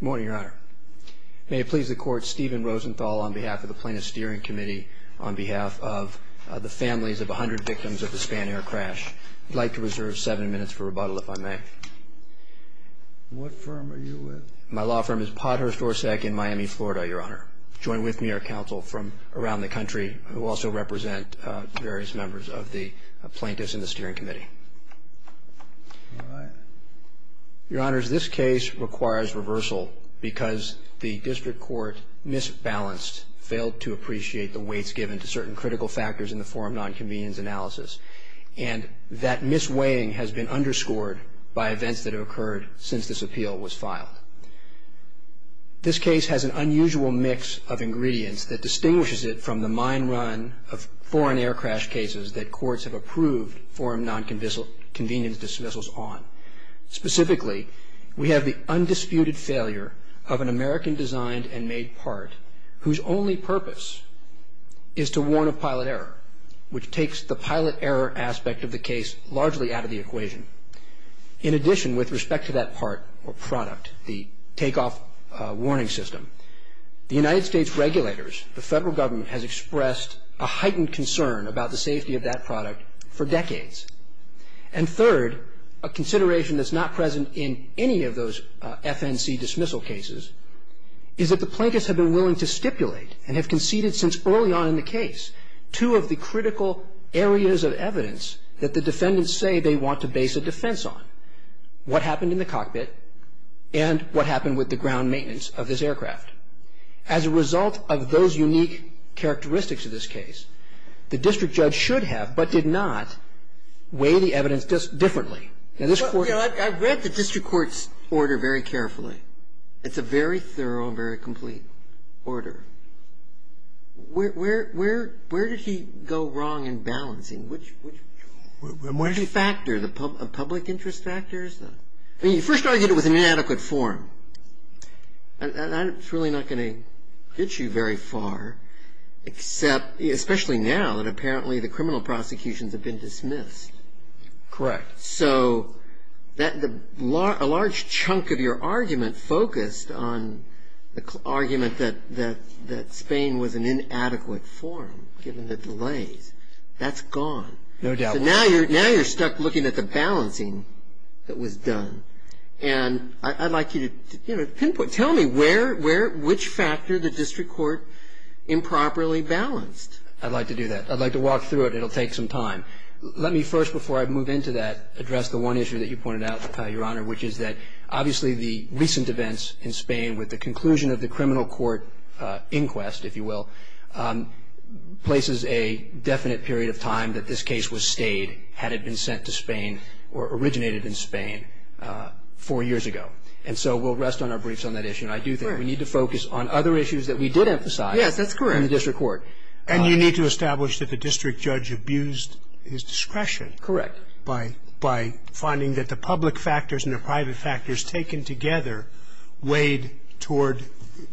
morning your honor may it please the court Stephen Rosenthal on behalf of the plaintiff's steering committee on behalf of the families of a hundred victims of the Spanair crash like to reserve seven minutes for rebuttal if I may. What firm are you with? My law firm is Pothurst Orsak in Miami Florida your honor join with me our counsel from around the country who also represent various members of the plaintiffs in the steering committee. Your honors this case requires reversal because the district court misbalanced failed to appreciate the weights given to certain critical factors in the forum non-convenience analysis and that mis-weighing has been underscored by events that have occurred since this appeal was filed. This case has an unusual mix of ingredients that distinguishes it from the mine run of dismissals on. Specifically we have the undisputed failure of an American designed and made part whose only purpose is to warn of pilot error which takes the pilot error aspect of the case largely out of the equation. In addition with respect to that part or product the takeoff warning system the United States regulators the federal government has expressed a heightened concern about the a consideration that's not present in any of those FNC dismissal cases is that the plaintiffs have been willing to stipulate and have conceded since early on in the case two of the critical areas of evidence that the defendants say they want to base a defense on. What happened in the cockpit and what happened with the ground maintenance of this aircraft. As a result of those unique characteristics of this case the district judge should have but did not weigh the evidence differently. I've read the district court's order very carefully. It's a very thorough and very complete order. Where did he go wrong in balancing? Which factor, the public interest factors? He first argued it was an inadequate form. That's really not going to get you very far except especially now that apparently the criminal prosecutions have been dismissed. Correct. So a large chunk of your argument focused on the argument that Spain was an inadequate form given the delays. That's gone. No doubt. Now you're stuck looking at the balancing that was done. I'd like you to pinpoint, tell me which factor the district court improperly balanced. I'd like to do that. I'd like to walk through it. It'll take some time. Let me first before I move into that address the one issue that you pointed out, Your Honor, which is that obviously the recent events in Spain with the conclusion of the criminal court inquest, if you will, places a definite period of time that this case was stayed had it been sent to Spain or originated in Spain four years ago. And so we'll rest on our briefs on that issue. And I do think we need to focus on other issues that we did emphasize. Yes, that's correct. And the district court. And you need to establish that the district judge abused his discretion. Correct. By finding that the public factors and the private factors taken together weighed toward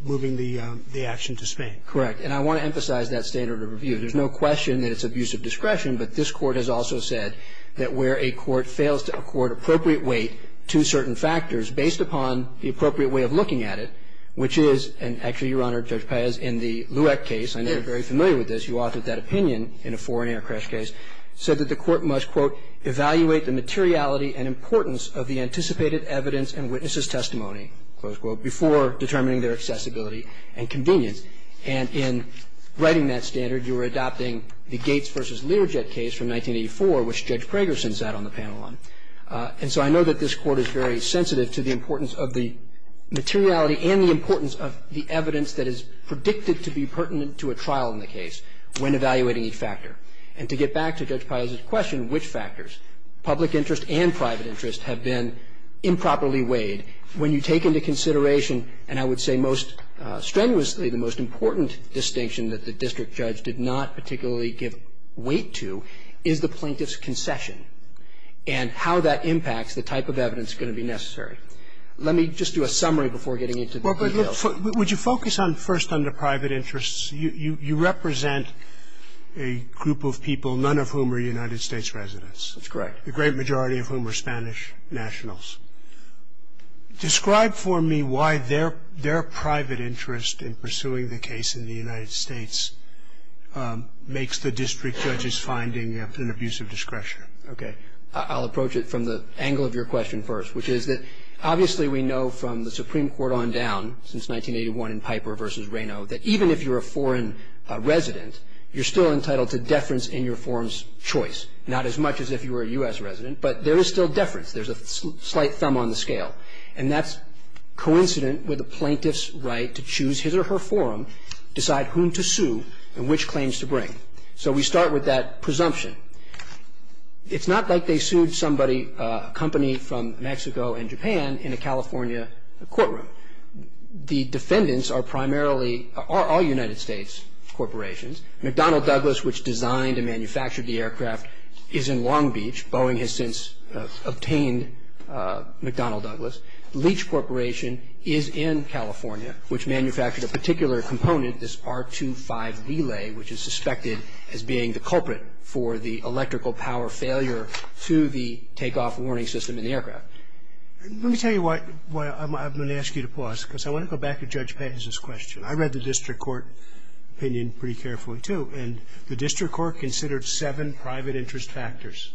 moving the action to Spain. Correct. And I want to emphasize that standard of review. There's no question that it's abuse of discretion, but this court has also said that where a court fails to accord appropriate weight to certain factors based upon the appropriate way of looking at it, which is, and actually, Your Honor, Judge Paez, in the case, I know you're very familiar with this, you authored that opinion in a foreign air crash case, said that the court must, quote, evaluate the materiality and importance of the anticipated evidence and witnesses' testimony, close quote, before determining their accessibility and convenience. And in writing that standard, you were adopting the Gates versus Learjet case from 1984, which Judge Pragerson sat on the panel on. And so I know that this court is very sensitive to the importance of the materiality and the importance of the evidence that is predicted to be pertinent to a trial in the case when evaluating each factor. And to get back to Judge Paez's question, which factors, public interest and private interest, have been improperly weighed, when you take into consideration, and I would say most strenuously, the most important distinction that the district judge did not particularly give weight to, is the plaintiff's concession and how that impacts the type of evidence going to be necessary. Let me just do a summary before getting into the details. Would you focus on, first, on the private interests? You represent a group of people, none of whom are United States residents. That's correct. The great majority of whom are Spanish nationals. Describe for me why their private interest in pursuing the case in the United States makes the district judge's finding an abuse of discretion. Okay. I'll approach it from the angle of your question first, which is that, obviously, we know from the Supreme Court on down, since 1981 in Piper v. Reno, that even if you're a foreign resident, you're still entitled to deference in your forum's choice, not as much as if you were a U.S. resident, but there is still deference. There's a slight thumb on the scale. And that's coincident with the plaintiff's right to choose his or her forum, decide whom to sue and which claims to bring. So we start with that presumption. It's not like they sued somebody, a company from Mexico and Japan, in a California courtroom. The defendants are primarily all United States corporations. McDonnell Douglas, which designed and manufactured the aircraft, is in Long Beach. Boeing has since obtained McDonnell Douglas. Leach Corporation is in California, which manufactured a particular component, this R25 relay, which is suspected as being the culprit for the electrical power failure to the takeoff warning system in the aircraft. Let me tell you why I'm going to ask you to pause, because I want to go back to Judge Paz's question. I read the district court opinion pretty carefully, too, and the district court considered seven private interest factors.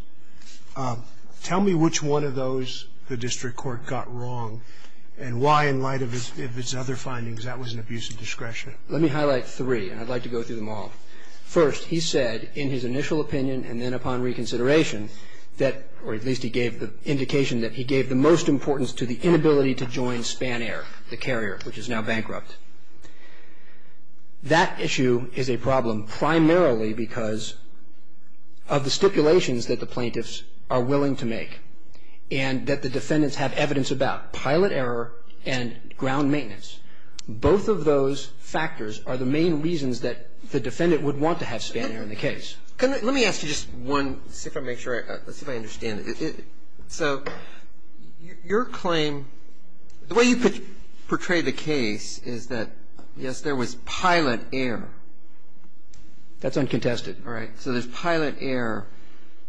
Tell me which one of those the district court got wrong, and why, in light of its other findings, that was an abuse of discretion. Let me highlight three, and I'd like to go through them all. First, he said, in his initial opinion and then upon reconsideration, that, or at least he gave the indication that he gave the most importance to the inability to join Spanair, the carrier, which is now bankrupt. That issue is a problem primarily because of the stipulations that the plaintiffs are willing to make, and that the defendants have evidence about, pilot error and ground maintenance. Both of those factors are the main reasons that the defendant would want to have Spanair in the case. Let me ask you just one, just to make sure I understand. So your claim, the way you portray the case is that, yes, there was pilot error. That's uncontested. All right. So there's pilot error,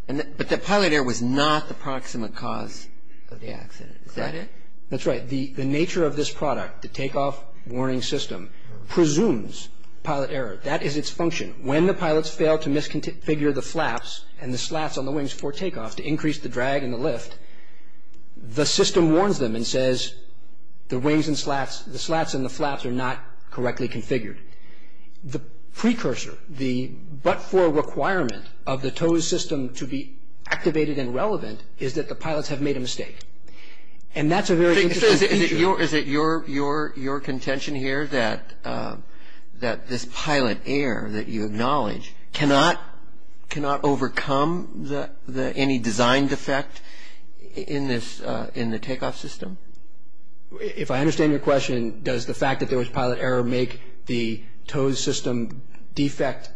but that pilot error was not the proximate cause of the accident. Is that it? That's right. The nature of this product, the takeoff warning system, presumes pilot error. That is its function. When the pilots fail to misconfigure the flaps and the slats on the wings for takeoff to increase the drag and the lift, the system warns them and says, the wings and slats, the slats and the flaps are not correctly configured. The precursor, the but-for requirement of the TOWS system to be activated and relevant is that the pilots have made a mistake. And that's a very interesting feature. Is it your contention here that this pilot error that you acknowledge cannot overcome any design defect in the takeoff system? If I understand your question, does the fact that there was pilot error make the TOWS system defect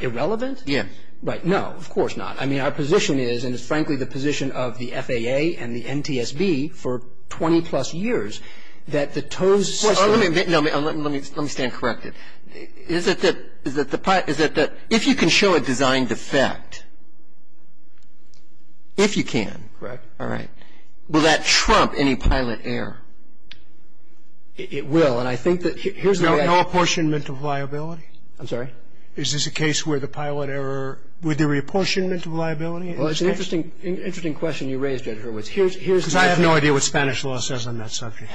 irrelevant? Yeah. Right, no, of course not. I mean, our position is, and it's frankly the position of the FAA and the NTSB for 20-plus years, that the TOWS system- Let me stand corrected. Is it that if you can show a design defect, if you can- Correct. All right. Will that trump any pilot error? It will, and I think that here's the way I- No apportionment of liability? I'm sorry? Is this a case where the pilot error, would there be apportionment of liability? Well, it's an interesting question you raised, Judge Hurwitz. Here's- Because I have no idea what Spanish law says on that subject.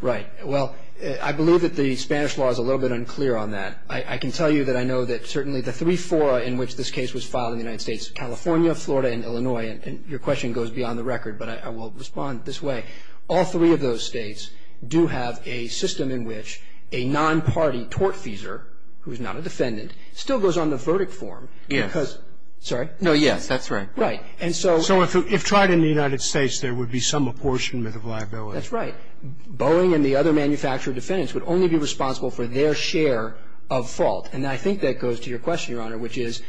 Right, well, I believe that the Spanish law is a little bit unclear on that. I can tell you that I know that certainly the three fora in which this case was filed in the United States, California, Florida, and Illinois, and your question goes beyond the record, but I will respond this way. All three of those states do have a system in which a non-party tortfeasor, who is not a defendant, still goes on the verdict form because- Yes. Sorry? No, yes, that's right. Right, and so- So if tried in the United States, there would be some apportionment of liability. That's right. Boeing and the other manufacturer defendants would only be responsible for their share of fault, and I think that goes to your question, Your Honor, which is,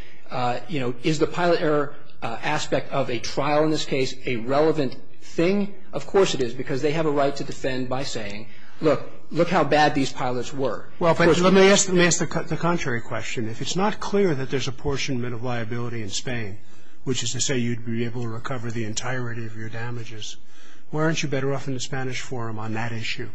is the pilot error aspect of a trial in this case a relevant thing? Of course it is, because they have a right to defend by saying, look, look how bad these pilots were. Well, let me ask the contrary question. If it's not clear that there's apportionment of liability in Spain, which is to say you'd be able to recover the entirety of your damages, why aren't you better off in the Spanish forum on that issue?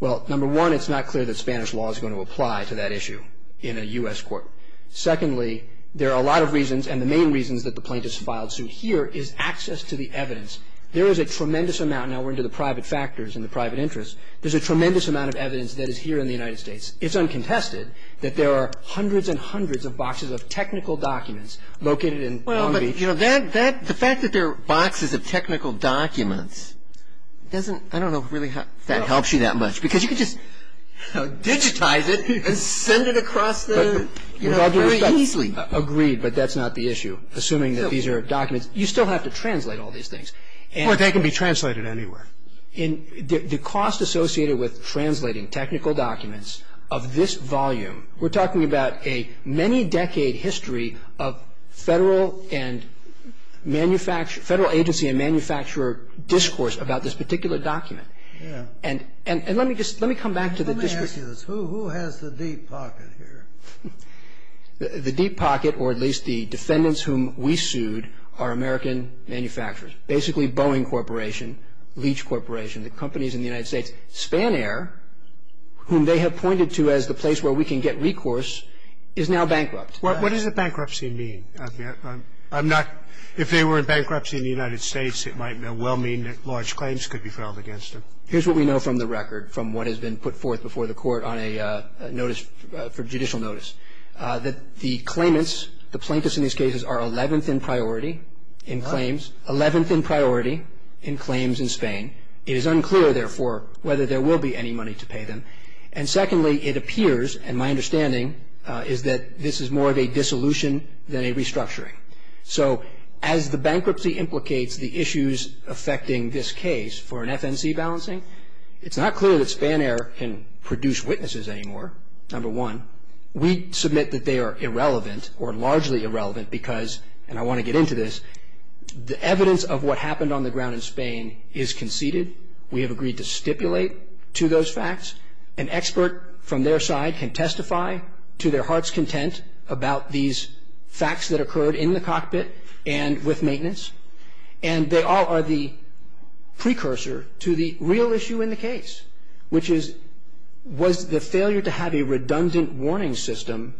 Well, number one, it's not clear that Spanish law is going to apply to that issue in a US court. Secondly, there are a lot of reasons, and the main reasons that the plaintiffs filed suit here is access to the evidence. There is a tremendous amount, now we're into the private factors and the private interests, there's a tremendous amount of evidence that is here in the United States. It's uncontested that there are hundreds and hundreds of boxes of technical documents located in Long Beach. Well, but the fact that there are boxes of technical documents doesn't, I don't know if that really helps you that much, because you could just digitize it and send it across the, you know, very easily. Agreed, but that's not the issue, assuming that these are documents. You still have to translate all these things. Or they can be translated anywhere. In the cost associated with translating technical documents of this volume, we're talking about a many decade history of federal and manufacture, federal agency and manufacturer discourse about this particular document. Yeah. And, and, and let me just, let me come back to the discourse. Let me ask you this. Who, who has the deep pocket here? The deep pocket, or at least the defendants whom we sued, are American manufacturers. Basically Boeing Corporation, Leach Corporation, the companies in the United States. Spanair, whom they have pointed to as the place where we can get recourse, is now bankrupt. What, what does a bankruptcy mean? I'm not, if they were in bankruptcy in the United States, it might well mean that large claims could be filed against them. Here's what we know from the record, from what has been put forth before the court on a notice for judicial notice, that the claimants, the plaintiffs in these cases, are 11th in priority in claims. 11th in priority in claims in Spain. It is unclear, therefore, whether there will be any money to pay them. And secondly, it appears, and my understanding is that this is more of a dissolution than a restructuring. So, as the bankruptcy implicates the issues affecting this case for an FNC balancing, it's not clear that Spanair can produce witnesses anymore. Number one, we submit that they are irrelevant, or largely irrelevant, because, and I want to get into this, the evidence of what happened on the ground in Spain is conceded. We have agreed to stipulate to those facts. An expert from their side can testify to their heart's content about these facts that occurred in the cockpit and with maintenance. And they all are the precursor to the real issue in the case, which is, was the failure to have a redundant warning system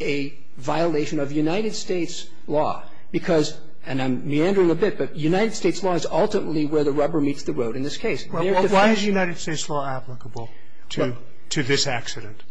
a violation of United States law? Because, and I'm meandering a bit, but United States law is ultimately where the rubber meets the road in this case. Why is United States law applicable to this accident?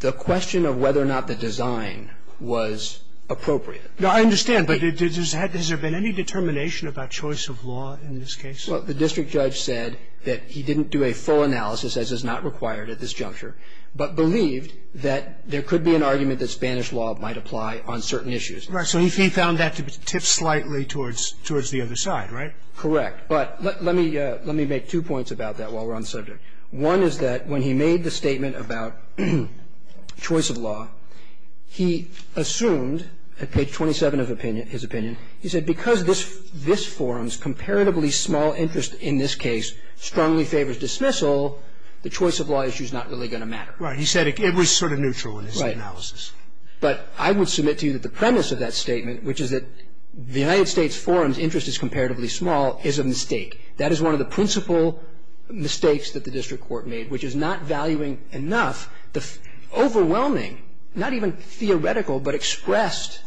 The question of whether or not the design was appropriate. No, I understand. But has there been any determination about choice of law in this case? Well, the district judge said that he didn't do a full analysis, as is not required at this juncture, but believed that there could be an argument that Spanish law might apply on certain issues. Right, so he found that to tip slightly towards the other side, right? Correct, but let me make two points about that while we're on the subject. One is that when he made the statement about choice of law, he assumed, at page 27 of his opinion, he said, because this forum's comparatively small interest in this case strongly favors dismissal, the choice of law issue's not really going to matter. Right, he said it was sort of neutral in his analysis. But I would submit to you that the premise of that statement, which is that the United States forum's interest is comparatively small, is a mistake. That is one of the principal mistakes that the district court made, which is not valuing enough the overwhelming, not even theoretical, but expressed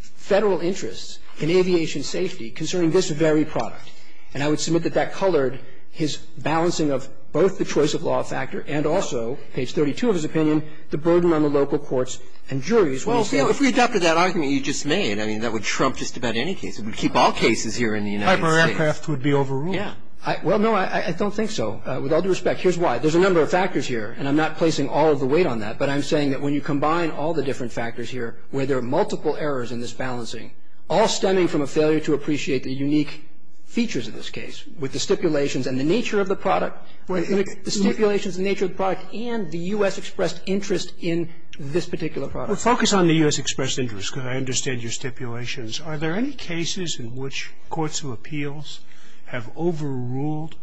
Federal interests in aviation safety concerning this very product. And I would submit that that colored his balancing of both the choice of law factor and also, page 32 of his opinion, the burden on the local courts and juries. Well, if we adopted that argument you just made, I mean, that would trump just about any case. It would keep all cases here in the United States. Hyper aircraft would be overruled. Yeah. Well, no, I don't think so. With all due respect, here's why. There's a number of factors here, and I'm not placing all of the weight on that, but I'm saying that when you combine all the different factors here, where there are multiple errors in this balancing, all stemming from a failure to appreciate the unique features of this case, with the stipulations and the nature of the product, the stipulations and the nature of the product, and the U.S. expressed interest in this particular product. Well, focus on the U.S. expressed interest, because I understand your stipulations. Are there any cases in which courts of appeals have overruled,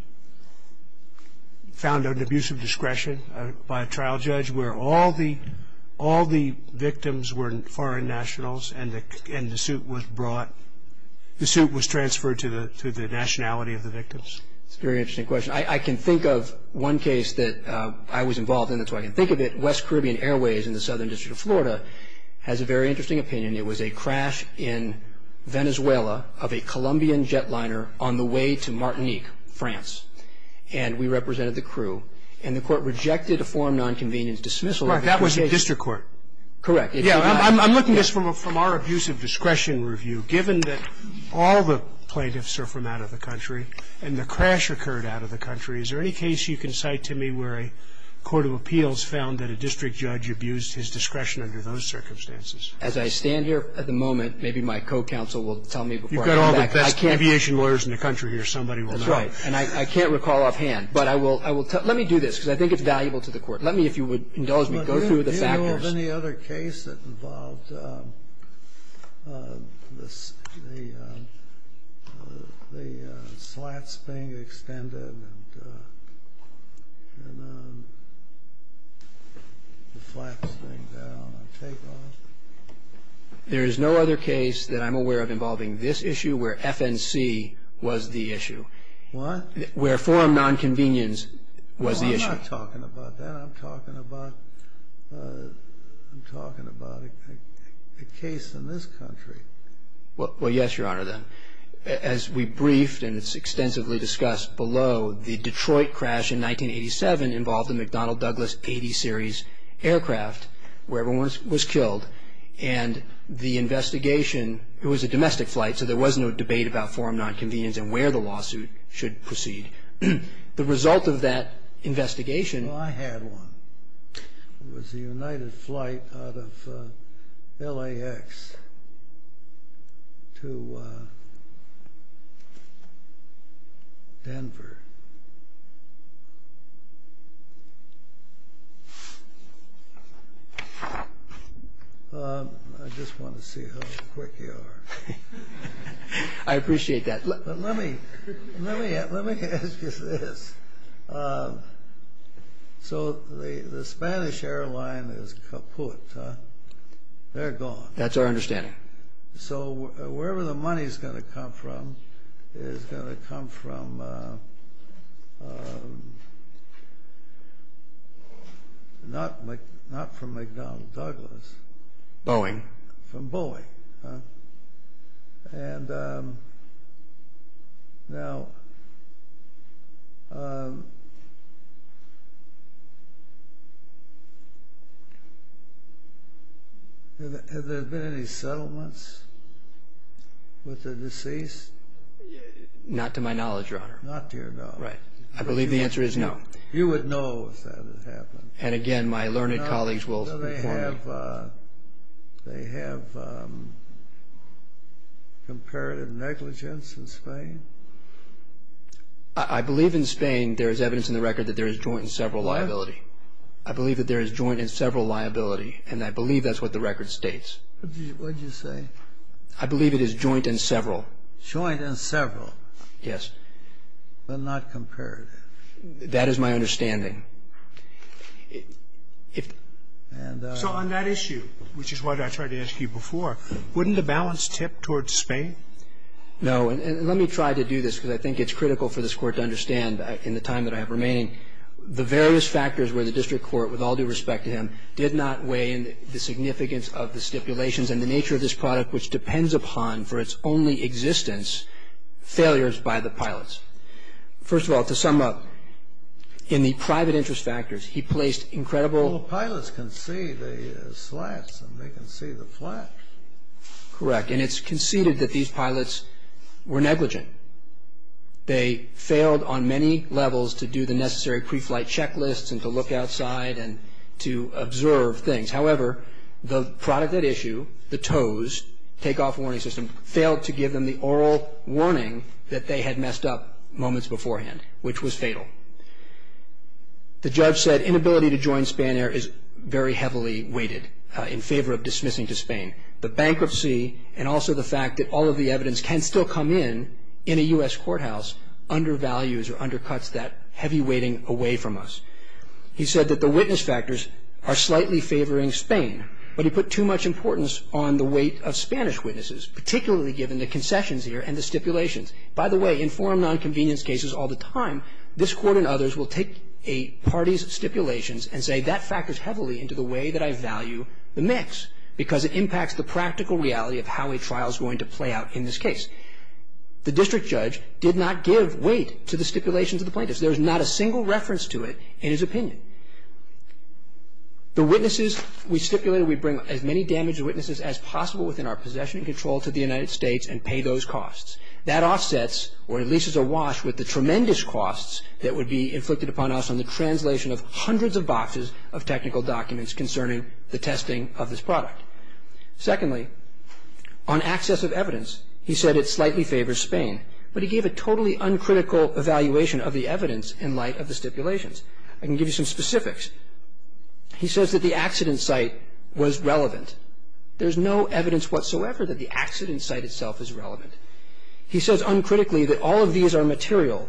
found an abuse of discretion by a trial judge, where all the victims were foreign nationals and the suit was brought, the suit was transferred to the nationality of the victims? It's a very interesting question. I can think of one case that I was involved in, that's why I can think of it. West Caribbean Airways in the Southern District of Florida has a very interesting opinion. It was a crash in Venezuela of a Colombian jetliner on the way to Martinique, France, and we represented the crew. And the court rejected a form of nonconvenience dismissal. Right, that was a district court. Correct. Yeah, I'm looking at this from our abuse of discretion review. Given that all the plaintiffs are from out of the country, and the crash occurred out of the country, is there any case you can cite to me where a court of appeals found that a district judge abused his discretion under those circumstances? As I stand here at the moment, maybe my co-counsel will tell me before I come back. You've got all the best aviation lawyers in the country here. Somebody will know. That's right. And I can't recall offhand. Let me do this, because I think it's valuable to the court. Let me, if you would indulge me, go through the factors. Do you have any other case that involved the slats being extended and the flats going down and take off? There is no other case that I'm aware of involving this issue where FNC was the issue. What? Where FNC was the issue. I'm not talking about that. I'm talking about a case in this country. Well, yes, Your Honor, then. As we briefed, and it's extensively discussed below, the Detroit crash in 1987 involved a McDonnell Douglas 80 series aircraft where everyone was killed. And the investigation, it was a domestic flight, so there was no debate about FNC and where the lawsuit should proceed. The result of that investigation. Well, I had one. It was a United flight out of LAX to Denver. I just want to see how quick you are. I appreciate that. But let me ask you this. So the Spanish airline is kaput. They're gone. That's our understanding. So wherever the money is going to come from is going to come from not from McDonnell Douglas. Boeing. From Boeing. And now, have there been any settlements with the deceased? Not to my knowledge, Your Honor. Not to your knowledge. Right. I believe the answer is no. You would know if that had happened. And again, my learned colleagues will inform you. Do they have comparative negligence in Spain? I believe in Spain there is evidence in the record that there is joint and several liability. I believe that there is joint and several liability. And I believe that's what the record states. What did you say? I believe it is joint and several. Joint and several. Yes. But not comparative. That is my understanding. So on that issue, which is what I tried to ask you before, wouldn't the balance tip towards Spain? No. And let me try to do this, because I think it's critical for this Court to understand in the time that I have remaining, the various factors where the district court, with all due respect to him, did not weigh in the significance of the stipulations and the nature of this product, which depends upon, for its only existence, failures by the pilots. First of all, to sum up, in the private interest factors, he placed incredible... Well, the pilots can see the slats, and they can see the flaps. Correct. And it's conceded that these pilots were negligent. They failed on many levels to do the necessary pre-flight checklists and to look outside and to observe things. However, the product at issue, the TOWS, take-off warning system, failed to give them the oral warning that they had messed up moments beforehand, which was fatal. The judge said inability to join Spanair is very heavily weighted in favor of dismissing to Spain. The bankruptcy and also the fact that all of the evidence can still come in in a U.S. courthouse undervalues or undercuts that heavy weighting away from us. He said that the witness factors are slightly favoring Spain, but he put too much importance on the weight of Spanish witnesses, particularly given the concessions here and the stipulations. By the way, in forum nonconvenience cases all the time, this Court and others will take a party's stipulations and say that factors heavily into the way that I value the mix because it impacts the practical reality of how a trial is going to play out in this case. The district judge did not give weight to the stipulations of the plaintiffs. There is not a single reference to it in his opinion. The witnesses we stipulated we bring as many damaged witnesses as possible within our possession and control to the United States and pay those costs. That offsets or at least is awash with the tremendous costs that would be inflicted upon us on the translation of hundreds of boxes of technical documents concerning the testing of this product. Secondly, on access of evidence, he said it slightly favors Spain, but he gave a totally uncritical evaluation of the evidence in light of the stipulations. I can give you some specifics. He says that the accident site was relevant. There's no evidence whatsoever that the accident site itself is relevant. He says uncritically that all of these are material,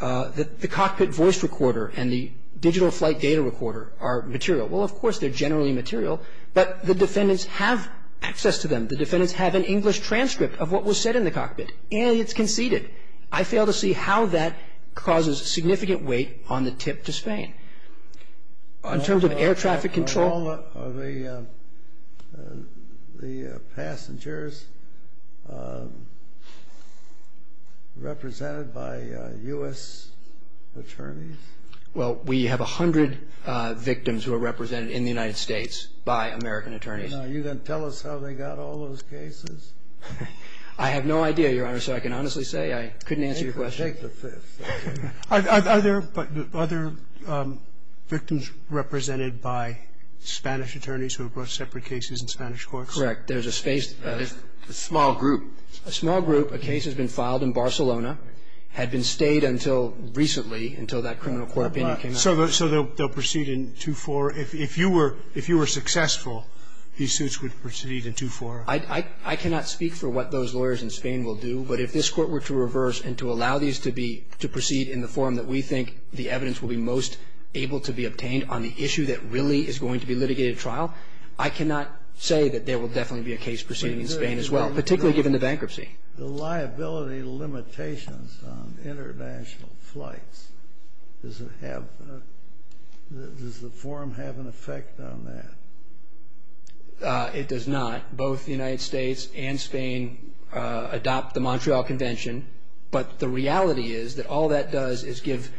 that the cockpit voice recorder and the digital flight data recorder are material. Well, of course, they're generally material, but the defendants have access to them. The defendants have an English transcript of what was said in the cockpit, and it's conceded. I fail to see how that causes significant weight on the tip to Spain. In terms of air traffic control. Are all of the passengers represented by U.S. attorneys? Well, we have 100 victims who are represented in the United States by American attorneys. Are you going to tell us how they got all those cases? I have no idea, Your Honor. So I can honestly say I couldn't answer your question. Are there other victims represented by Spanish attorneys who have brought separate cases in Spanish courts? Correct. There's a space, a small group, a small group. A case has been filed in Barcelona, had been stayed until recently, until that criminal court opinion came out. So they'll proceed in 2-4. If you were successful, these suits would proceed in 2-4. I cannot speak for what those lawyers in Spain will do, but if this Court were to reverse and to allow these to be, to proceed in the form that we think the evidence will be most able to be obtained on the issue that really is going to be litigated at trial, I cannot say that there will definitely be a case proceeding in Spain as well, particularly given the bankruptcy. The liability limitations on international flights, does it have, does the form have an effect on that? It does not. Both the United States and Spain adopt the Montreal Convention, but the reality is that all that does is give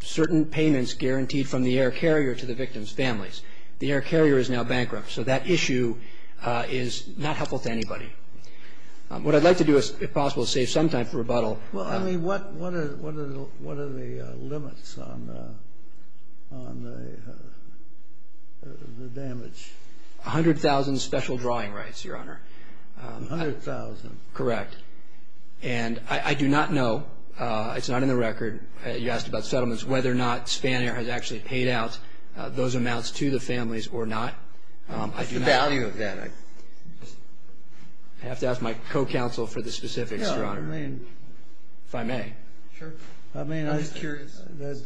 certain payments guaranteed from the air carrier to the victim's families. The air carrier is now bankrupt, so that issue is not helpful to anybody. What I'd like to do, if possible, is save some time for rebuttal. Well, I mean, what are the limits on the damage? A hundred thousand special drawing rights, Your Honor. A hundred thousand. Correct. And I do not know, it's not in the record, you asked about settlements, whether or not Spanair has actually paid out those amounts to the families or not. What's the value of that? I have to ask my co-counsel for the specifics, Your Honor. If I may. Sure. I mean, I'm just curious. Your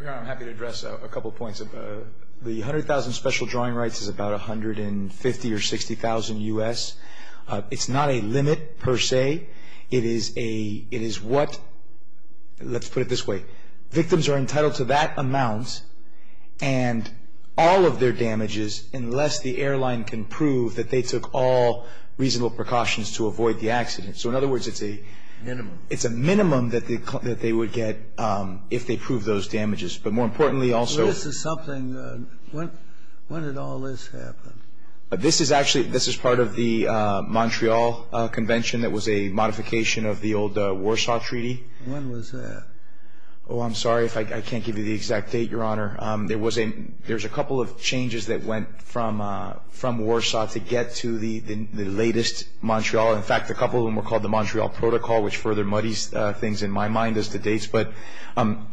Honor, I'm happy to address a couple points. The hundred thousand special drawing rights is about $150,000 or $60,000 U.S. It's not a limit, per se. It is a, it is what, let's put it this way. Victims are entitled to that amount and all of their damages unless the airline can prove that they took all reasonable precautions to avoid the accident. So in other words, it's a. Minimum. It's a minimum that they would get if they prove those damages. But more importantly also. So this is something, when did all this happen? This is actually, this is part of the Montreal Convention that was a modification of the old Warsaw Treaty. When was that? Oh, I'm sorry if I can't give you the exact date, Your Honor. There's a couple of changes that went from Warsaw to get to the latest Montreal. In fact, a couple of them were called the Montreal Protocol, which further muddies things in my mind as to dates. But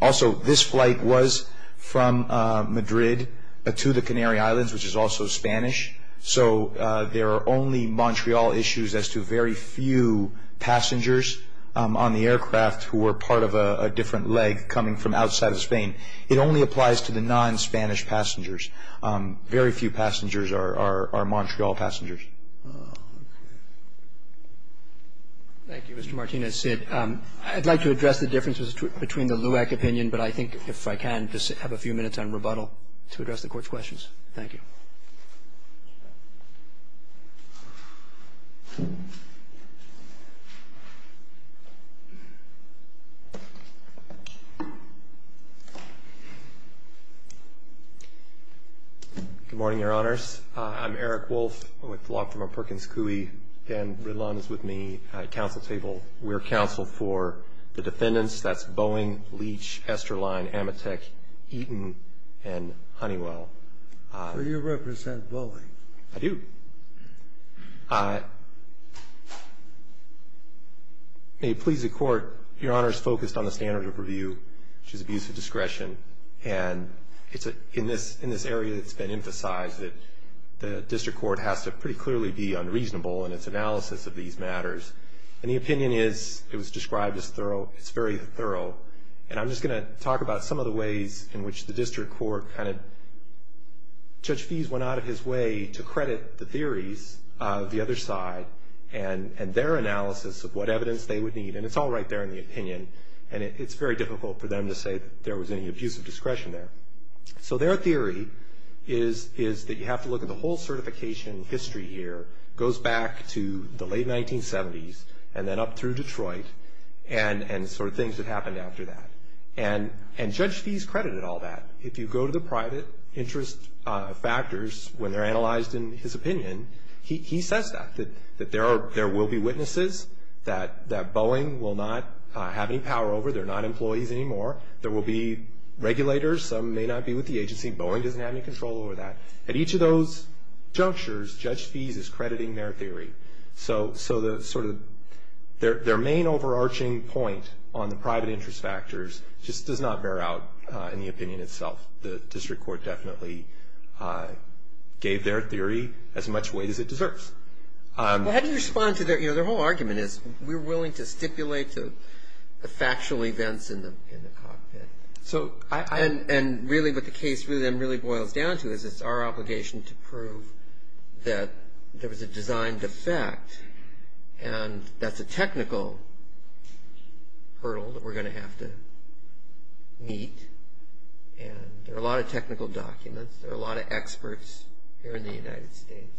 also, this flight was from Madrid to the Canary Islands, which is also Spanish. So there are only Montreal issues as to very few passengers on the aircraft who were part of a different leg coming from outside of Spain. It only applies to the non-Spanish passengers. Very few passengers are Montreal passengers. Oh, okay. Thank you, Mr. Martinez. Sid, I'd like to address the differences between the LUAC opinion, but I think if I can just have a few minutes on rebuttal to address the Court's questions. Thank you. Good morning, Your Honors. I'm Eric Wolfe. I'm with the LUAC from a Perkins Coulee. Dan Ridlon is with me at Council Table. We're counsel for the defendants. That's Boeing, Leach, Esterline, Amatek, Eaton, and Honeywell. Do you represent Boeing? I do. May it please the Court, Your Honor is focused on the standard of review, which is abuse of discretion. And in this area, it's been emphasized that the district court has to pretty clearly be unreasonable in its analysis of these matters. And the opinion is, it was described as thorough. It's very thorough. And I'm just going to talk about some of the ways in which the district court kind of, Judge Fies went out of his way to credit the theories of the other side and their analysis of what evidence they would need. And it's all right there in the opinion. And it's very difficult for them to say that there was any abuse of discretion there. So their theory is that you have to look at the whole certification history here. It goes back to the late 1970s and then up through Detroit and sort of things that happened after that. And Judge Fies credited all that. If you go to the private interest factors when they're analyzed in his opinion, he says that. That there will be witnesses that Boeing will not have any power over. They're not employees anymore. There will be regulators. Some may not be with the agency. Boeing doesn't have any control over that. At each of those junctures, Judge Fies is crediting their theory. So their main overarching point on the private interest factors just does not bear out in the opinion itself. The district court definitely gave their theory as much weight as it deserves. How do you respond to their whole argument is we're willing to stipulate the factual events in the cockpit. And really what the case really boils down to is it's our obligation to prove that there was a designed effect. And that's a technical hurdle that we're going to have to meet. And there are a lot of technical documents. There are a lot of experts here in the United States.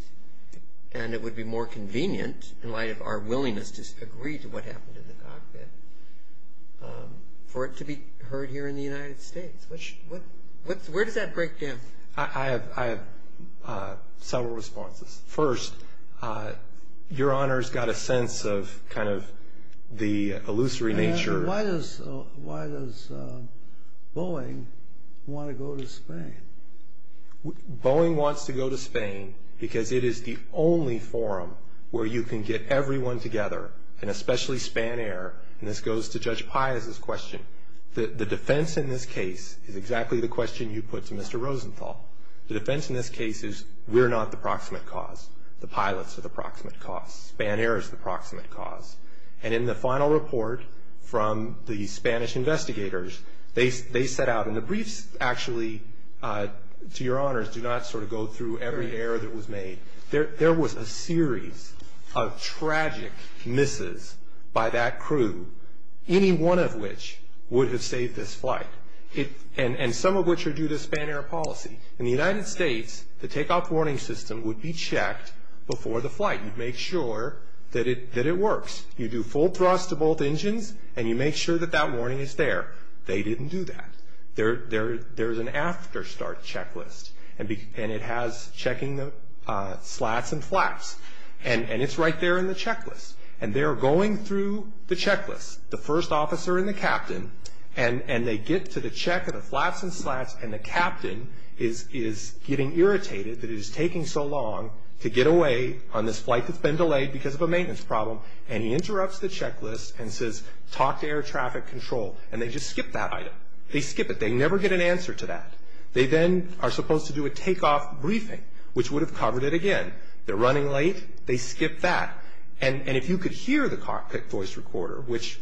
And it would be more convenient in light of our willingness to agree to what happened in the cockpit for it to be heard here in the United States. Where does that break down? I have several responses. First, Your Honor's got a sense of kind of the illusory nature. Why does Boeing want to go to Spain? Boeing wants to go to Spain because it is the only forum where you can get everyone together, and especially Spanair. And this goes to Judge Fies' question. The defense in this case is exactly the question you put to Mr. Rosenthal. The defense in this case is we're not the proximate cause. The pilots are the proximate cause. Spanair is the proximate cause. And in the final report from the Spanish investigators, they set out. And the briefs actually, to Your Honor's, do not sort of go through every error that was made. There was a series of tragic misses by that crew, any one of which would have saved this flight. And some of which are due to Spanair policy. In the United States, the takeoff warning system would be checked before the flight. You'd make sure that it works. You do full thrust to both engines, and you make sure that that warning is there. They didn't do that. There's an afterstart checklist, and it has checking the slats and flaps. And it's right there in the checklist. And they're going through the checklist, the first officer and the captain. And they get to the check of the flaps and slats. And the captain is getting irritated that it is taking so long to get away on this flight that's been delayed because of a maintenance problem. And he interrupts the checklist and says, talk to air traffic control. And they just skip that item. They skip it. They never get an answer to that. They then are supposed to do a takeoff briefing, which would have covered it again. They're running late. They skip that. And if you could hear the cockpit voice recorder, which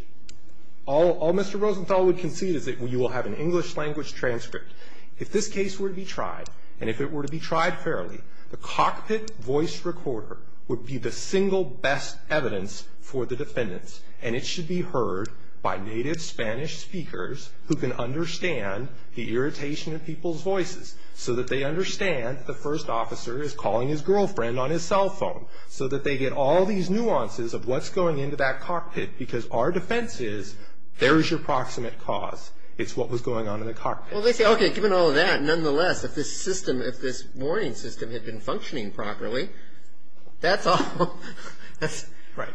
all Mr. Rosenthal would concede is that you will have an English language transcript. If this case were to be tried, and if it were to be tried fairly, the cockpit voice recorder would be the single best evidence for the defendants. And it should be heard by native Spanish speakers who can understand the irritation of people's voices, so that they understand that the first officer is calling his girlfriend on his cell phone, so that they get all these nuances of what's going into that cockpit. Because our defense is there is your proximate cause. It's what was going on in the cockpit. Well, they say, okay, given all of that, nonetheless, if this system, if this warning system had been functioning properly, that's all. Right.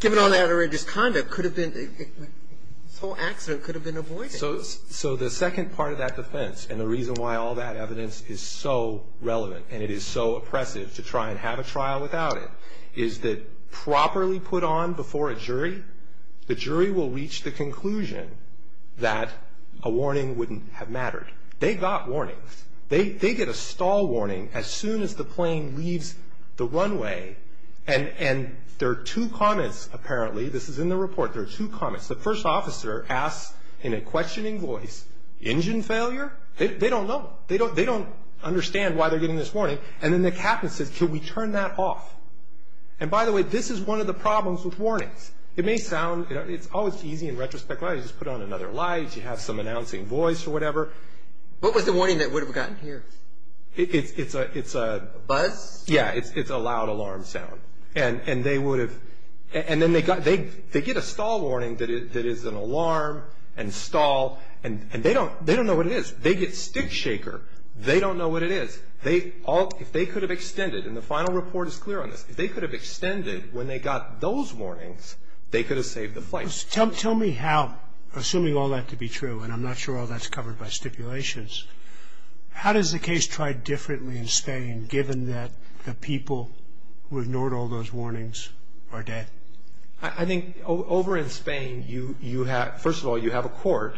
Given all that outrageous conduct, this whole accident could have been avoided. Okay, so the second part of that defense, and the reason why all that evidence is so relevant, and it is so oppressive to try and have a trial without it, is that properly put on before a jury, the jury will reach the conclusion that a warning wouldn't have mattered. They got warnings. They get a stall warning as soon as the plane leaves the runway. And there are two comments, apparently. This is in the report. There are two comments. The first officer asks in a questioning voice, engine failure? They don't know. They don't understand why they're getting this warning. And then the captain says, can we turn that off? And by the way, this is one of the problems with warnings. It may sound, you know, it's always easy and retrospective. You just put on another light. You have some announcing voice or whatever. What was the warning that would have gotten here? It's a buzz? Yeah, it's a loud alarm sound. And then they get a stall warning that is an alarm and stall, and they don't know what it is. They get stick shaker. They don't know what it is. If they could have extended, and the final report is clear on this, if they could have extended when they got those warnings, they could have saved the flight. Tell me how, assuming all that to be true, and I'm not sure all that's covered by stipulations, how does the case try differently in Spain given that the people who ignored all those warnings are dead? I think over in Spain, first of all, you have a court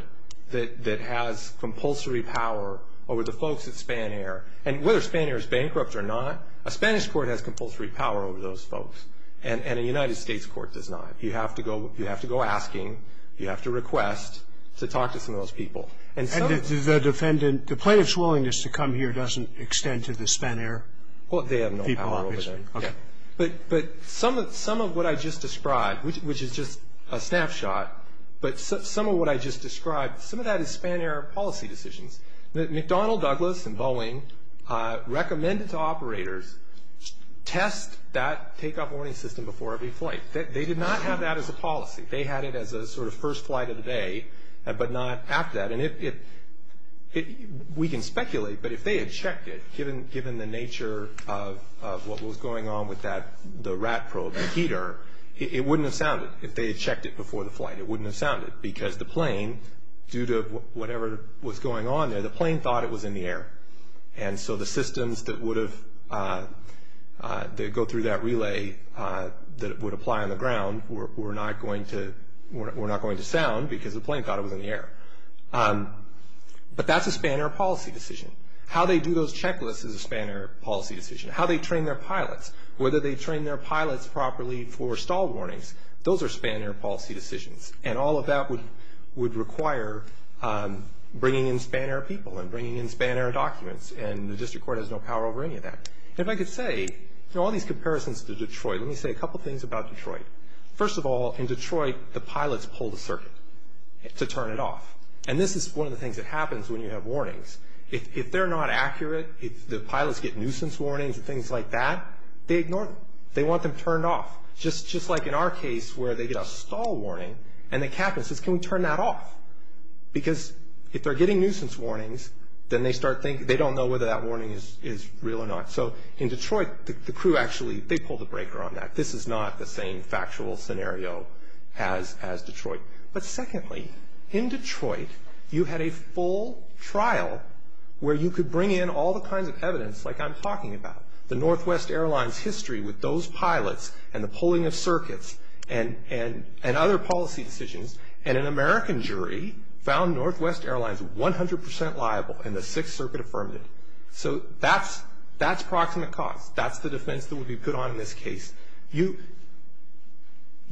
that has compulsory power over the folks at Spanair. And whether Spanair is bankrupt or not, a Spanish court has compulsory power over those folks, and a United States court does not. You have to go asking. You have to request to talk to some of those people. And the plaintiff's willingness to come here doesn't extend to the Spanair people, obviously. But some of what I just described, which is just a snapshot, but some of what I just described, some of that is Spanair policy decisions. McDonnell Douglas and Boeing recommended to operators test that takeoff warning system before every flight. They did not have that as a policy. They had it as a sort of first flight of the day but not after that. We can speculate, but if they had checked it, given the nature of what was going on with the rat probe, the heater, it wouldn't have sounded if they had checked it before the flight. It wouldn't have sounded because the plane, due to whatever was going on there, the plane thought it was in the air. And so the systems that go through that relay that would apply on the ground were not going to sound because the plane thought it was in the air. But that's a Spanair policy decision. How they do those checklists is a Spanair policy decision. How they train their pilots, whether they train their pilots properly for stall warnings, those are Spanair policy decisions. And all of that would require bringing in Spanair people and bringing in Spanair documents, and the district court has no power over any of that. If I could say, you know, all these comparisons to Detroit, let me say a couple things about Detroit. First of all, in Detroit, the pilots pull the circuit to turn it off. And this is one of the things that happens when you have warnings. If they're not accurate, if the pilots get nuisance warnings and things like that, they ignore them. They want them turned off, just like in our case where they get a stall warning and the captain says, can we turn that off? Because if they're getting nuisance warnings, then they start thinking, they don't know whether that warning is real or not. So in Detroit, the crew actually, they pull the breaker on that. This is not the same factual scenario as Detroit. But secondly, in Detroit, you had a full trial where you could bring in all the kinds of evidence, like I'm talking about, the Northwest Airlines history with those pilots and the pulling of circuits and other policy decisions, and an American jury found Northwest Airlines 100% liable and the Sixth Circuit affirmed it. So that's proximate cause. That's the defense that would be put on in this case. You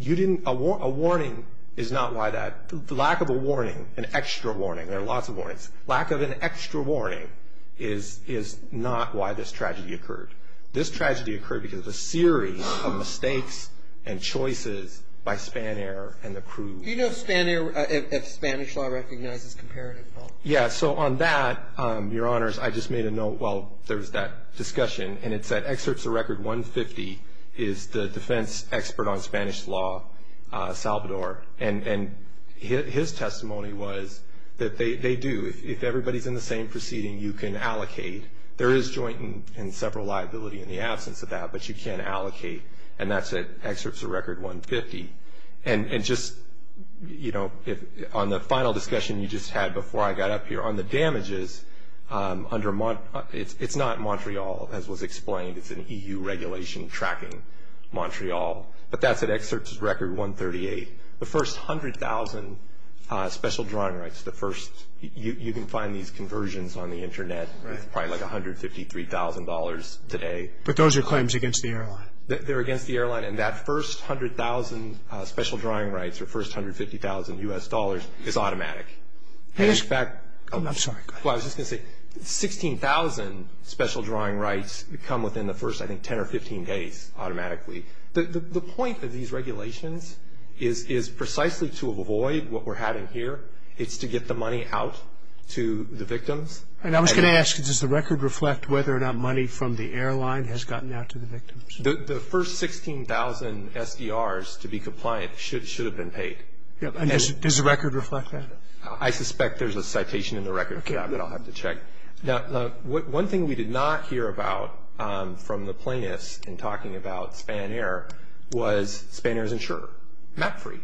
didn't, a warning is not why that, lack of a warning, an extra warning. There are lots of warnings. Lack of an extra warning is not why this tragedy occurred. This tragedy occurred because of a series of mistakes and choices by Spanair and the crew. Do you know if Spanair, if Spanish law recognizes comparative fault? Yeah, so on that, Your Honors, I just made a note while there was that discussion, and it said excerpts of record 150 is the defense expert on Spanish law, Salvador, and his testimony was that they do. If everybody's in the same proceeding, you can allocate. There is joint and several liability in the absence of that, but you can allocate, and that's at excerpts of record 150. And just, you know, on the final discussion you just had before I got up here, on the damages, it's not Montreal, as was explained. It's an EU regulation tracking Montreal, but that's at excerpts of record 138. The first 100,000 special drawing rights, the first, you can find these conversions on the Internet, probably like $153,000 today. But those are claims against the airline. They're against the airline, and that first 100,000 special drawing rights, or first $150,000 U.S. dollars, is automatic. I'm sorry. I was just going to say 16,000 special drawing rights come within the first, I think, 10 or 15 days automatically. The point of these regulations is precisely to avoid what we're having here. It's to get the money out to the victims. And I was going to ask, does the record reflect whether or not money from the airline has gotten out to the victims? The first 16,000 SDRs to be compliant should have been paid. And does the record reflect that? I suspect there's a citation in the record that I'll have to check. One thing we did not hear about from the plaintiffs in talking about Spanair was Spanair's insurer, Mapfree.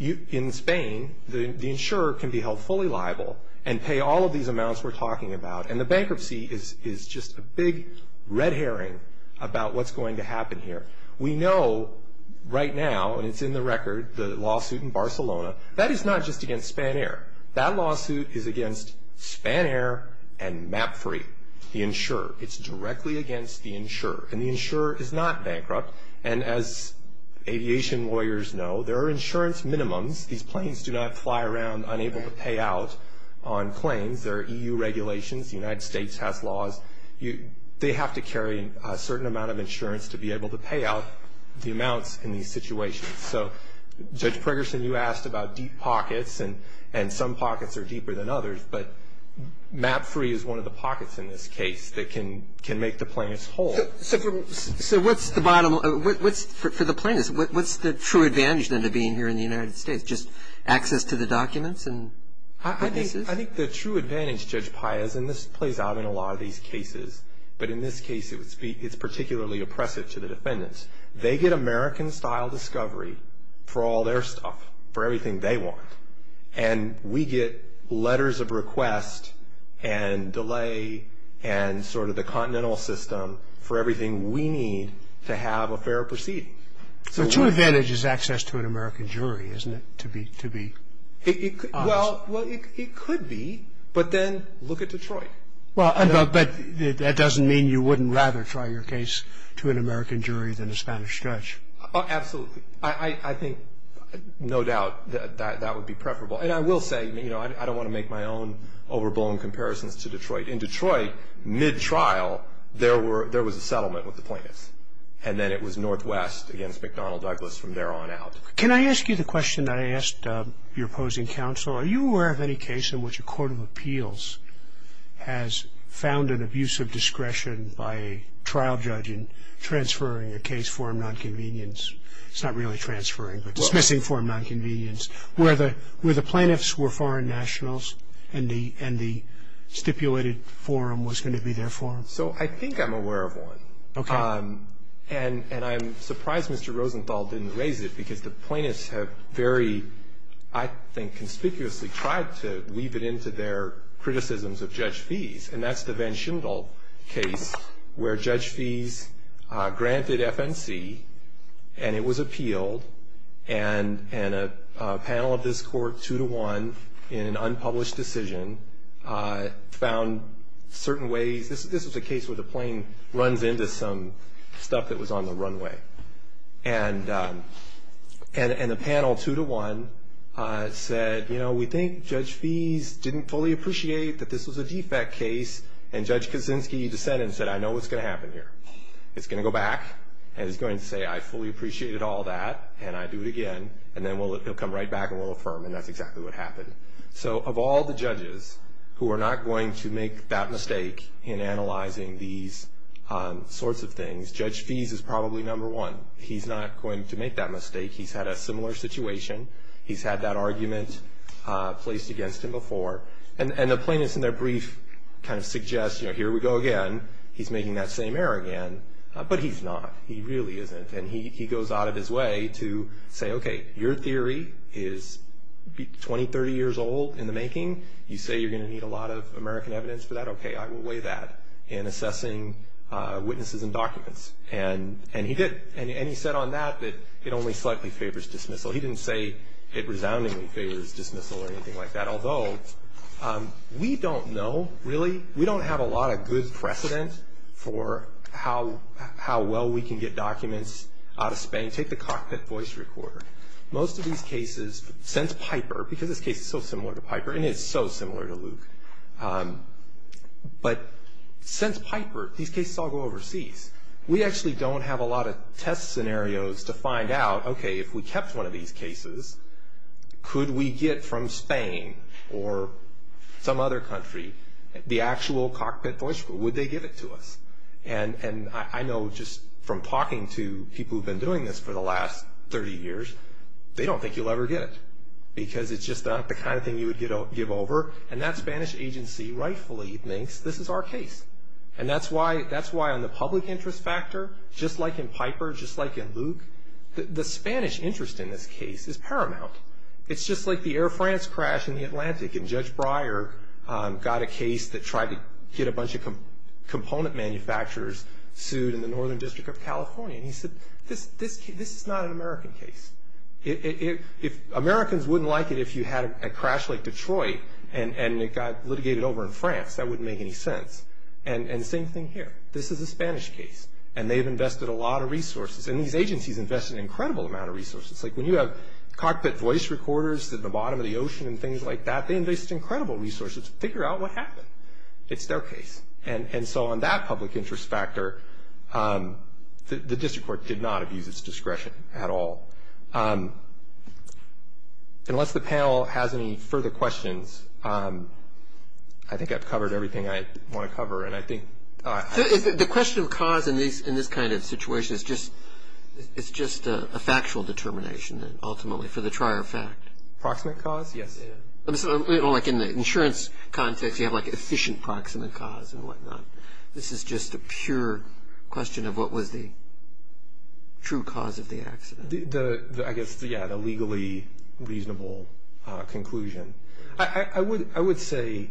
In Spain, the insurer can be held fully liable and pay all of these amounts we're talking about. And the bankruptcy is just a big red herring about what's going to happen here. We know right now, and it's in the record, the lawsuit in Barcelona, that is not just against Spanair. That lawsuit is against Spanair and Mapfree, the insurer. It's directly against the insurer. And the insurer is not bankrupt. And as aviation lawyers know, there are insurance minimums. These planes do not fly around unable to pay out on planes. There are EU regulations. The United States has laws. They have to carry a certain amount of insurance to be able to pay out the amounts in these situations. So, Judge Pregerson, you asked about deep pockets, and some pockets are deeper than others, but Mapfree is one of the pockets in this case that can make the plaintiffs whole. So what's the bottom line? For the plaintiffs, what's the true advantage, then, of being here in the United States, just access to the documents and witnesses? I think the true advantage, Judge Paez, and this plays out in a lot of these cases, but in this case, it's particularly oppressive to the defendants. They get American-style discovery for all their stuff, for everything they want, and we get letters of request and delay and sort of the continental system for everything we need to have a fair proceeding. So the true advantage is access to an American jury, isn't it, to be honest? Well, it could be, but then look at Detroit. But that doesn't mean you wouldn't rather try your case to an American jury than a Spanish judge. Absolutely. I think, no doubt, that that would be preferable. And I will say, you know, I don't want to make my own overblown comparisons to Detroit. In Detroit, mid-trial, there was a settlement with the plaintiffs, and then it was Northwest against McDonnell Douglas from there on out. Can I ask you the question that I asked your opposing counsel? Are you aware of any case in which a court of appeals has found an abuse of discretion by a trial judge in transferring a case for a nonconvenience? It's not really transferring, but dismissing for a nonconvenience, where the plaintiffs were foreign nationals and the stipulated forum was going to be their forum? So I think I'm aware of one. Okay. And I'm surprised Mr. Rosenthal didn't raise it because the plaintiffs have very, I think, conspicuously tried to weave it into their criticisms of Judge Fees, and that's the Van Schimdel case where Judge Fees granted FNC, and it was appealed, and a panel of this court, two to one, in an unpublished decision, found certain ways. This was a case where the plain runs into some stuff that was on the runway. And the panel, two to one, said, you know, we think Judge Fees didn't fully appreciate that this was a defect case, and Judge Kaczynski dissented and said, I know what's going to happen here. It's going to go back and it's going to say, I fully appreciated all that, and I do it again, and then he'll come right back and we'll affirm, and that's exactly what happened. So of all the judges who are not going to make that mistake in analyzing these sorts of things, Judge Fees is probably number one. He's not going to make that mistake. He's had a similar situation. He's had that argument placed against him before. And the plaintiffs in their brief kind of suggest, you know, here we go again. He's making that same error again, but he's not. He really isn't, and he goes out of his way to say, okay, your theory is 20, 30 years old in the making. You say you're going to need a lot of American evidence for that. Okay, I will weigh that in assessing witnesses and documents. And he did, and he said on that that it only slightly favors dismissal. He didn't say it resoundingly favors dismissal or anything like that, although we don't know, really. We don't have a lot of good precedent for how well we can get documents out of Spain. Take the cockpit voice recorder. Most of these cases, since Piper, because this case is so similar to Piper, and it's so similar to Luke, but since Piper, these cases all go overseas. We actually don't have a lot of test scenarios to find out, okay, if we kept one of these cases, could we get from Spain or some other country the actual cockpit voice recorder? Would they give it to us? And I know just from talking to people who have been doing this for the last 30 years, they don't think you'll ever get it because it's just not the kind of thing you would give over. And that Spanish agency rightfully thinks this is our case. And that's why on the public interest factor, just like in Piper, just like in Luke, the Spanish interest in this case is paramount. And Judge Breyer got a case that tried to get a bunch of component manufacturers sued in the Northern District of California. And he said, this is not an American case. Americans wouldn't like it if you had a crash like Detroit and it got litigated over in France. That wouldn't make any sense. And the same thing here. This is a Spanish case, and they've invested a lot of resources. And these agencies invest an incredible amount of resources. It's like when you have cockpit voice recorders at the bottom of the ocean and things like that, they invest incredible resources to figure out what happened. It's their case. And so on that public interest factor, the district court did not abuse its discretion at all. Unless the panel has any further questions, I think I've covered everything I want to cover. The question of cause in this kind of situation is just a factual determination ultimately for the trier fact. Proximate cause? Yes. Like in the insurance context, you have like efficient proximate cause and whatnot. This is just a pure question of what was the true cause of the accident. I guess, yeah, the legally reasonable conclusion. I would say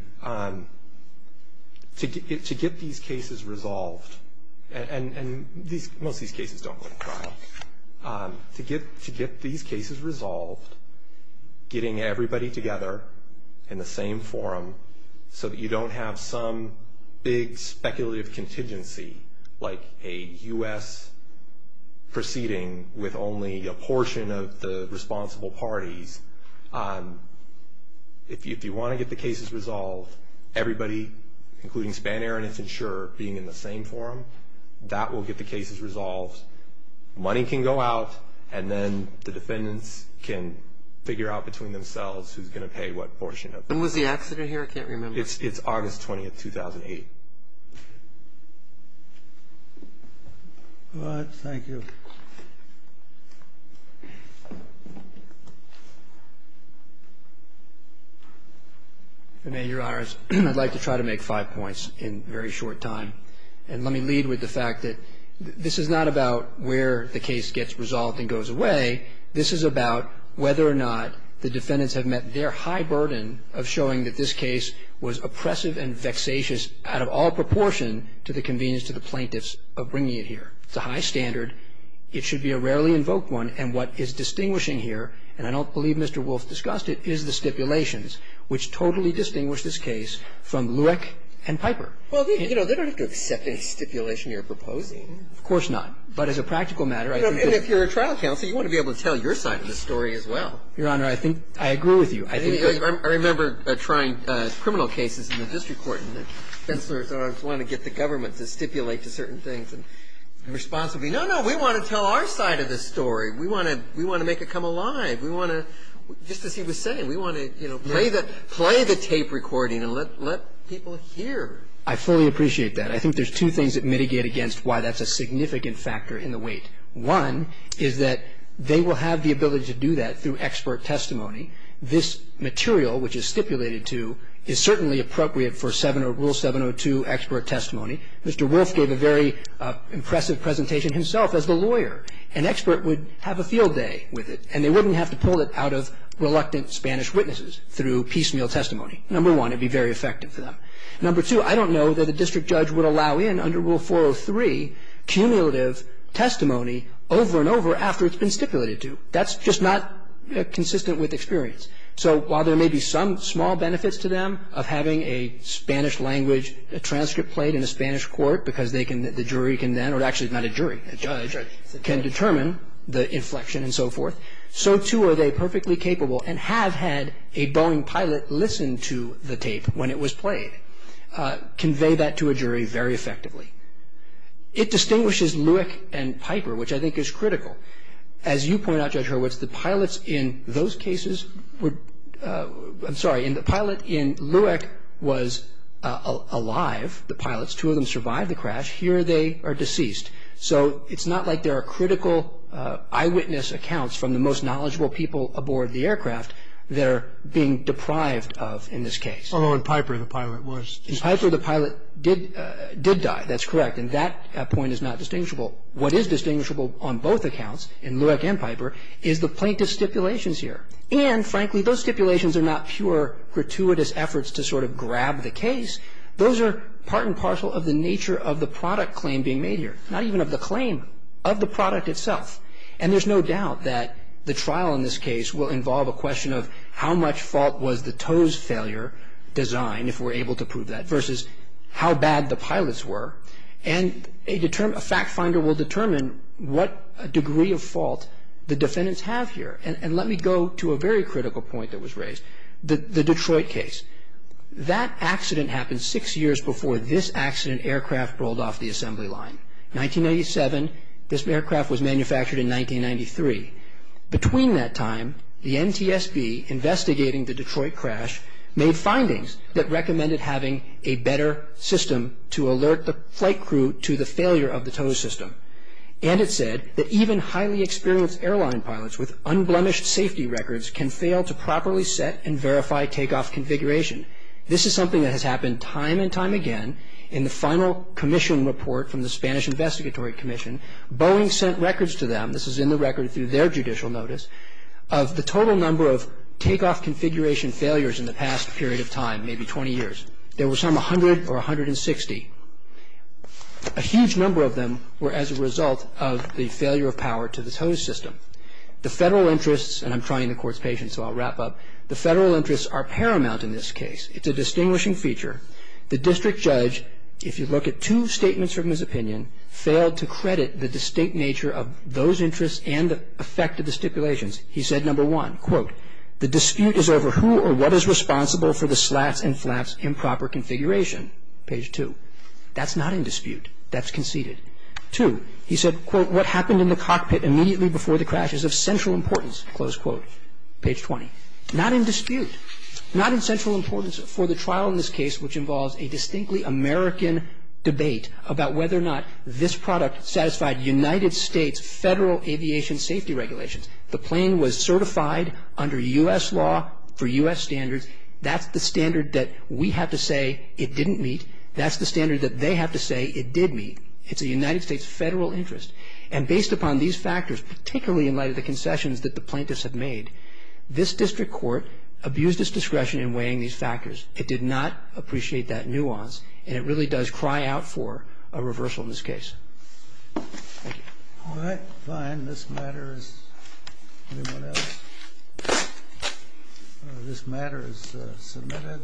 to get these cases resolved, and most of these cases don't go to trial, to get these cases resolved, getting everybody together in the same forum, so that you don't have some big speculative contingency, like a U.S. proceeding with only a portion of the responsible parties. If you want to get the cases resolved, everybody, including Spanair and Infinsure, being in the same forum, that will get the cases resolved. Money can go out, and then the defendants can figure out between themselves who's going to pay what portion of it. When was the accident here? I can't remember. It's August 20th, 2008. All right. Thank you. If it may, Your Honors, I'd like to try to make five points in very short time, and let me lead with the fact that this is not about where the case gets resolved and goes away. This is about whether or not the defendants have met their high burden of showing that this case was oppressive and vexatious out of all proportion to the convenience to the plaintiffs of bringing it here. It's a high standard. It should be a rarely invoked one. And what is distinguishing here, and I don't believe Mr. Wolf discussed it, is the stipulations, which totally distinguish this case from Lueck and Piper. Well, you know, they don't have to accept any stipulation you're proposing. Of course not. But as a practical matter, I think that they should. They should be able to tell your side of the story as well. Your Honor, I think I agree with you. I remember trying criminal cases in the district court, and the defense lawyers wanted to get the government to stipulate to certain things. And the response would be, no, no, we want to tell our side of the story. We want to make it come alive. We want to, just as he was saying, we want to, you know, play the tape recording and let people hear. I fully appreciate that. I think there's two things that mitigate against why that's a significant factor in the weight. One is that they will have the ability to do that through expert testimony. This material, which is stipulated to, is certainly appropriate for Rule 702 expert testimony. Mr. Wolf gave a very impressive presentation himself as the lawyer. An expert would have a field day with it, and they wouldn't have to pull it out of reluctant Spanish witnesses through piecemeal testimony. Number one, it would be very effective for them. Number two, I don't know that a district judge would allow in, under Rule 403, cumulative testimony over and over after it's been stipulated to. That's just not consistent with experience. So while there may be some small benefits to them of having a Spanish language, a transcript played in a Spanish court because they can, the jury can then, or actually not a jury, a judge can determine the inflection and so forth, so too are they perfectly capable and have had a Boeing pilot listen to the tape when it was played, convey that to a jury very effectively. It distinguishes Lueck and Piper, which I think is critical. As you point out, Judge Hurwitz, the pilots in those cases were, I'm sorry, in the pilot in Lueck was alive, the pilots. Two of them survived the crash. Here they are deceased. So it's not like there are critical eyewitness accounts from the most knowledgeable people aboard the aircraft that are being deprived of in this case. Although in Piper the pilot was deceased. In Piper the pilot did die. That's correct. And that point is not distinguishable. What is distinguishable on both accounts, in Lueck and Piper, is the plaintiff's stipulations here. And, frankly, those stipulations are not pure gratuitous efforts to sort of grab the case. Those are part and parcel of the nature of the product claim being made here, not even of the claim, of the product itself. And there's no doubt that the trial in this case will involve a question of how much fault was the tow's failure design, if we're able to prove that, versus how bad the pilots were. And a fact finder will determine what degree of fault the defendants have here. And let me go to a very critical point that was raised, the Detroit case. That accident happened six years before this accident aircraft rolled off the assembly line. 1997, this aircraft was manufactured in 1993. Between that time, the NTSB, investigating the Detroit crash, made findings that recommended having a better system to alert the flight crew to the failure of the tow system. And it said that even highly experienced airline pilots with unblemished safety records can fail to properly set and verify takeoff configuration. This is something that has happened time and time again. In the final commission report from the Spanish Investigatory Commission, Boeing sent records to them. This is in the record through their judicial notice of the total number of takeoff configuration failures in the past period of time, maybe 20 years. There were some 100 or 160. A huge number of them were as a result of the failure of power to the tow system. The federal interests, and I'm trying the court's patience, so I'll wrap up. The federal interests are paramount in this case. It's a distinguishing feature. The district judge, if you look at two statements from his opinion, failed to credit the distinct nature of those interests and the effect of the stipulations. He said, number one, quote, the dispute is over who or what is responsible for the slats and flaps improper configuration, page two. That's not in dispute. That's conceded. Two, he said, quote, what happened in the cockpit immediately before the crash is of central importance, close quote, page 20. Not in dispute. Not in central importance for the trial in this case, which involves a distinctly American debate about whether or not this product satisfied United States federal aviation safety regulations. The plane was certified under U.S. law for U.S. standards. That's the standard that we have to say it didn't meet. That's the standard that they have to say it did meet. It's a United States federal interest. And based upon these factors, particularly in light of the concessions that the It did not appreciate that nuance. And it really does cry out for a reversal in this case. Thank you. All right. Fine. This matter is submitted.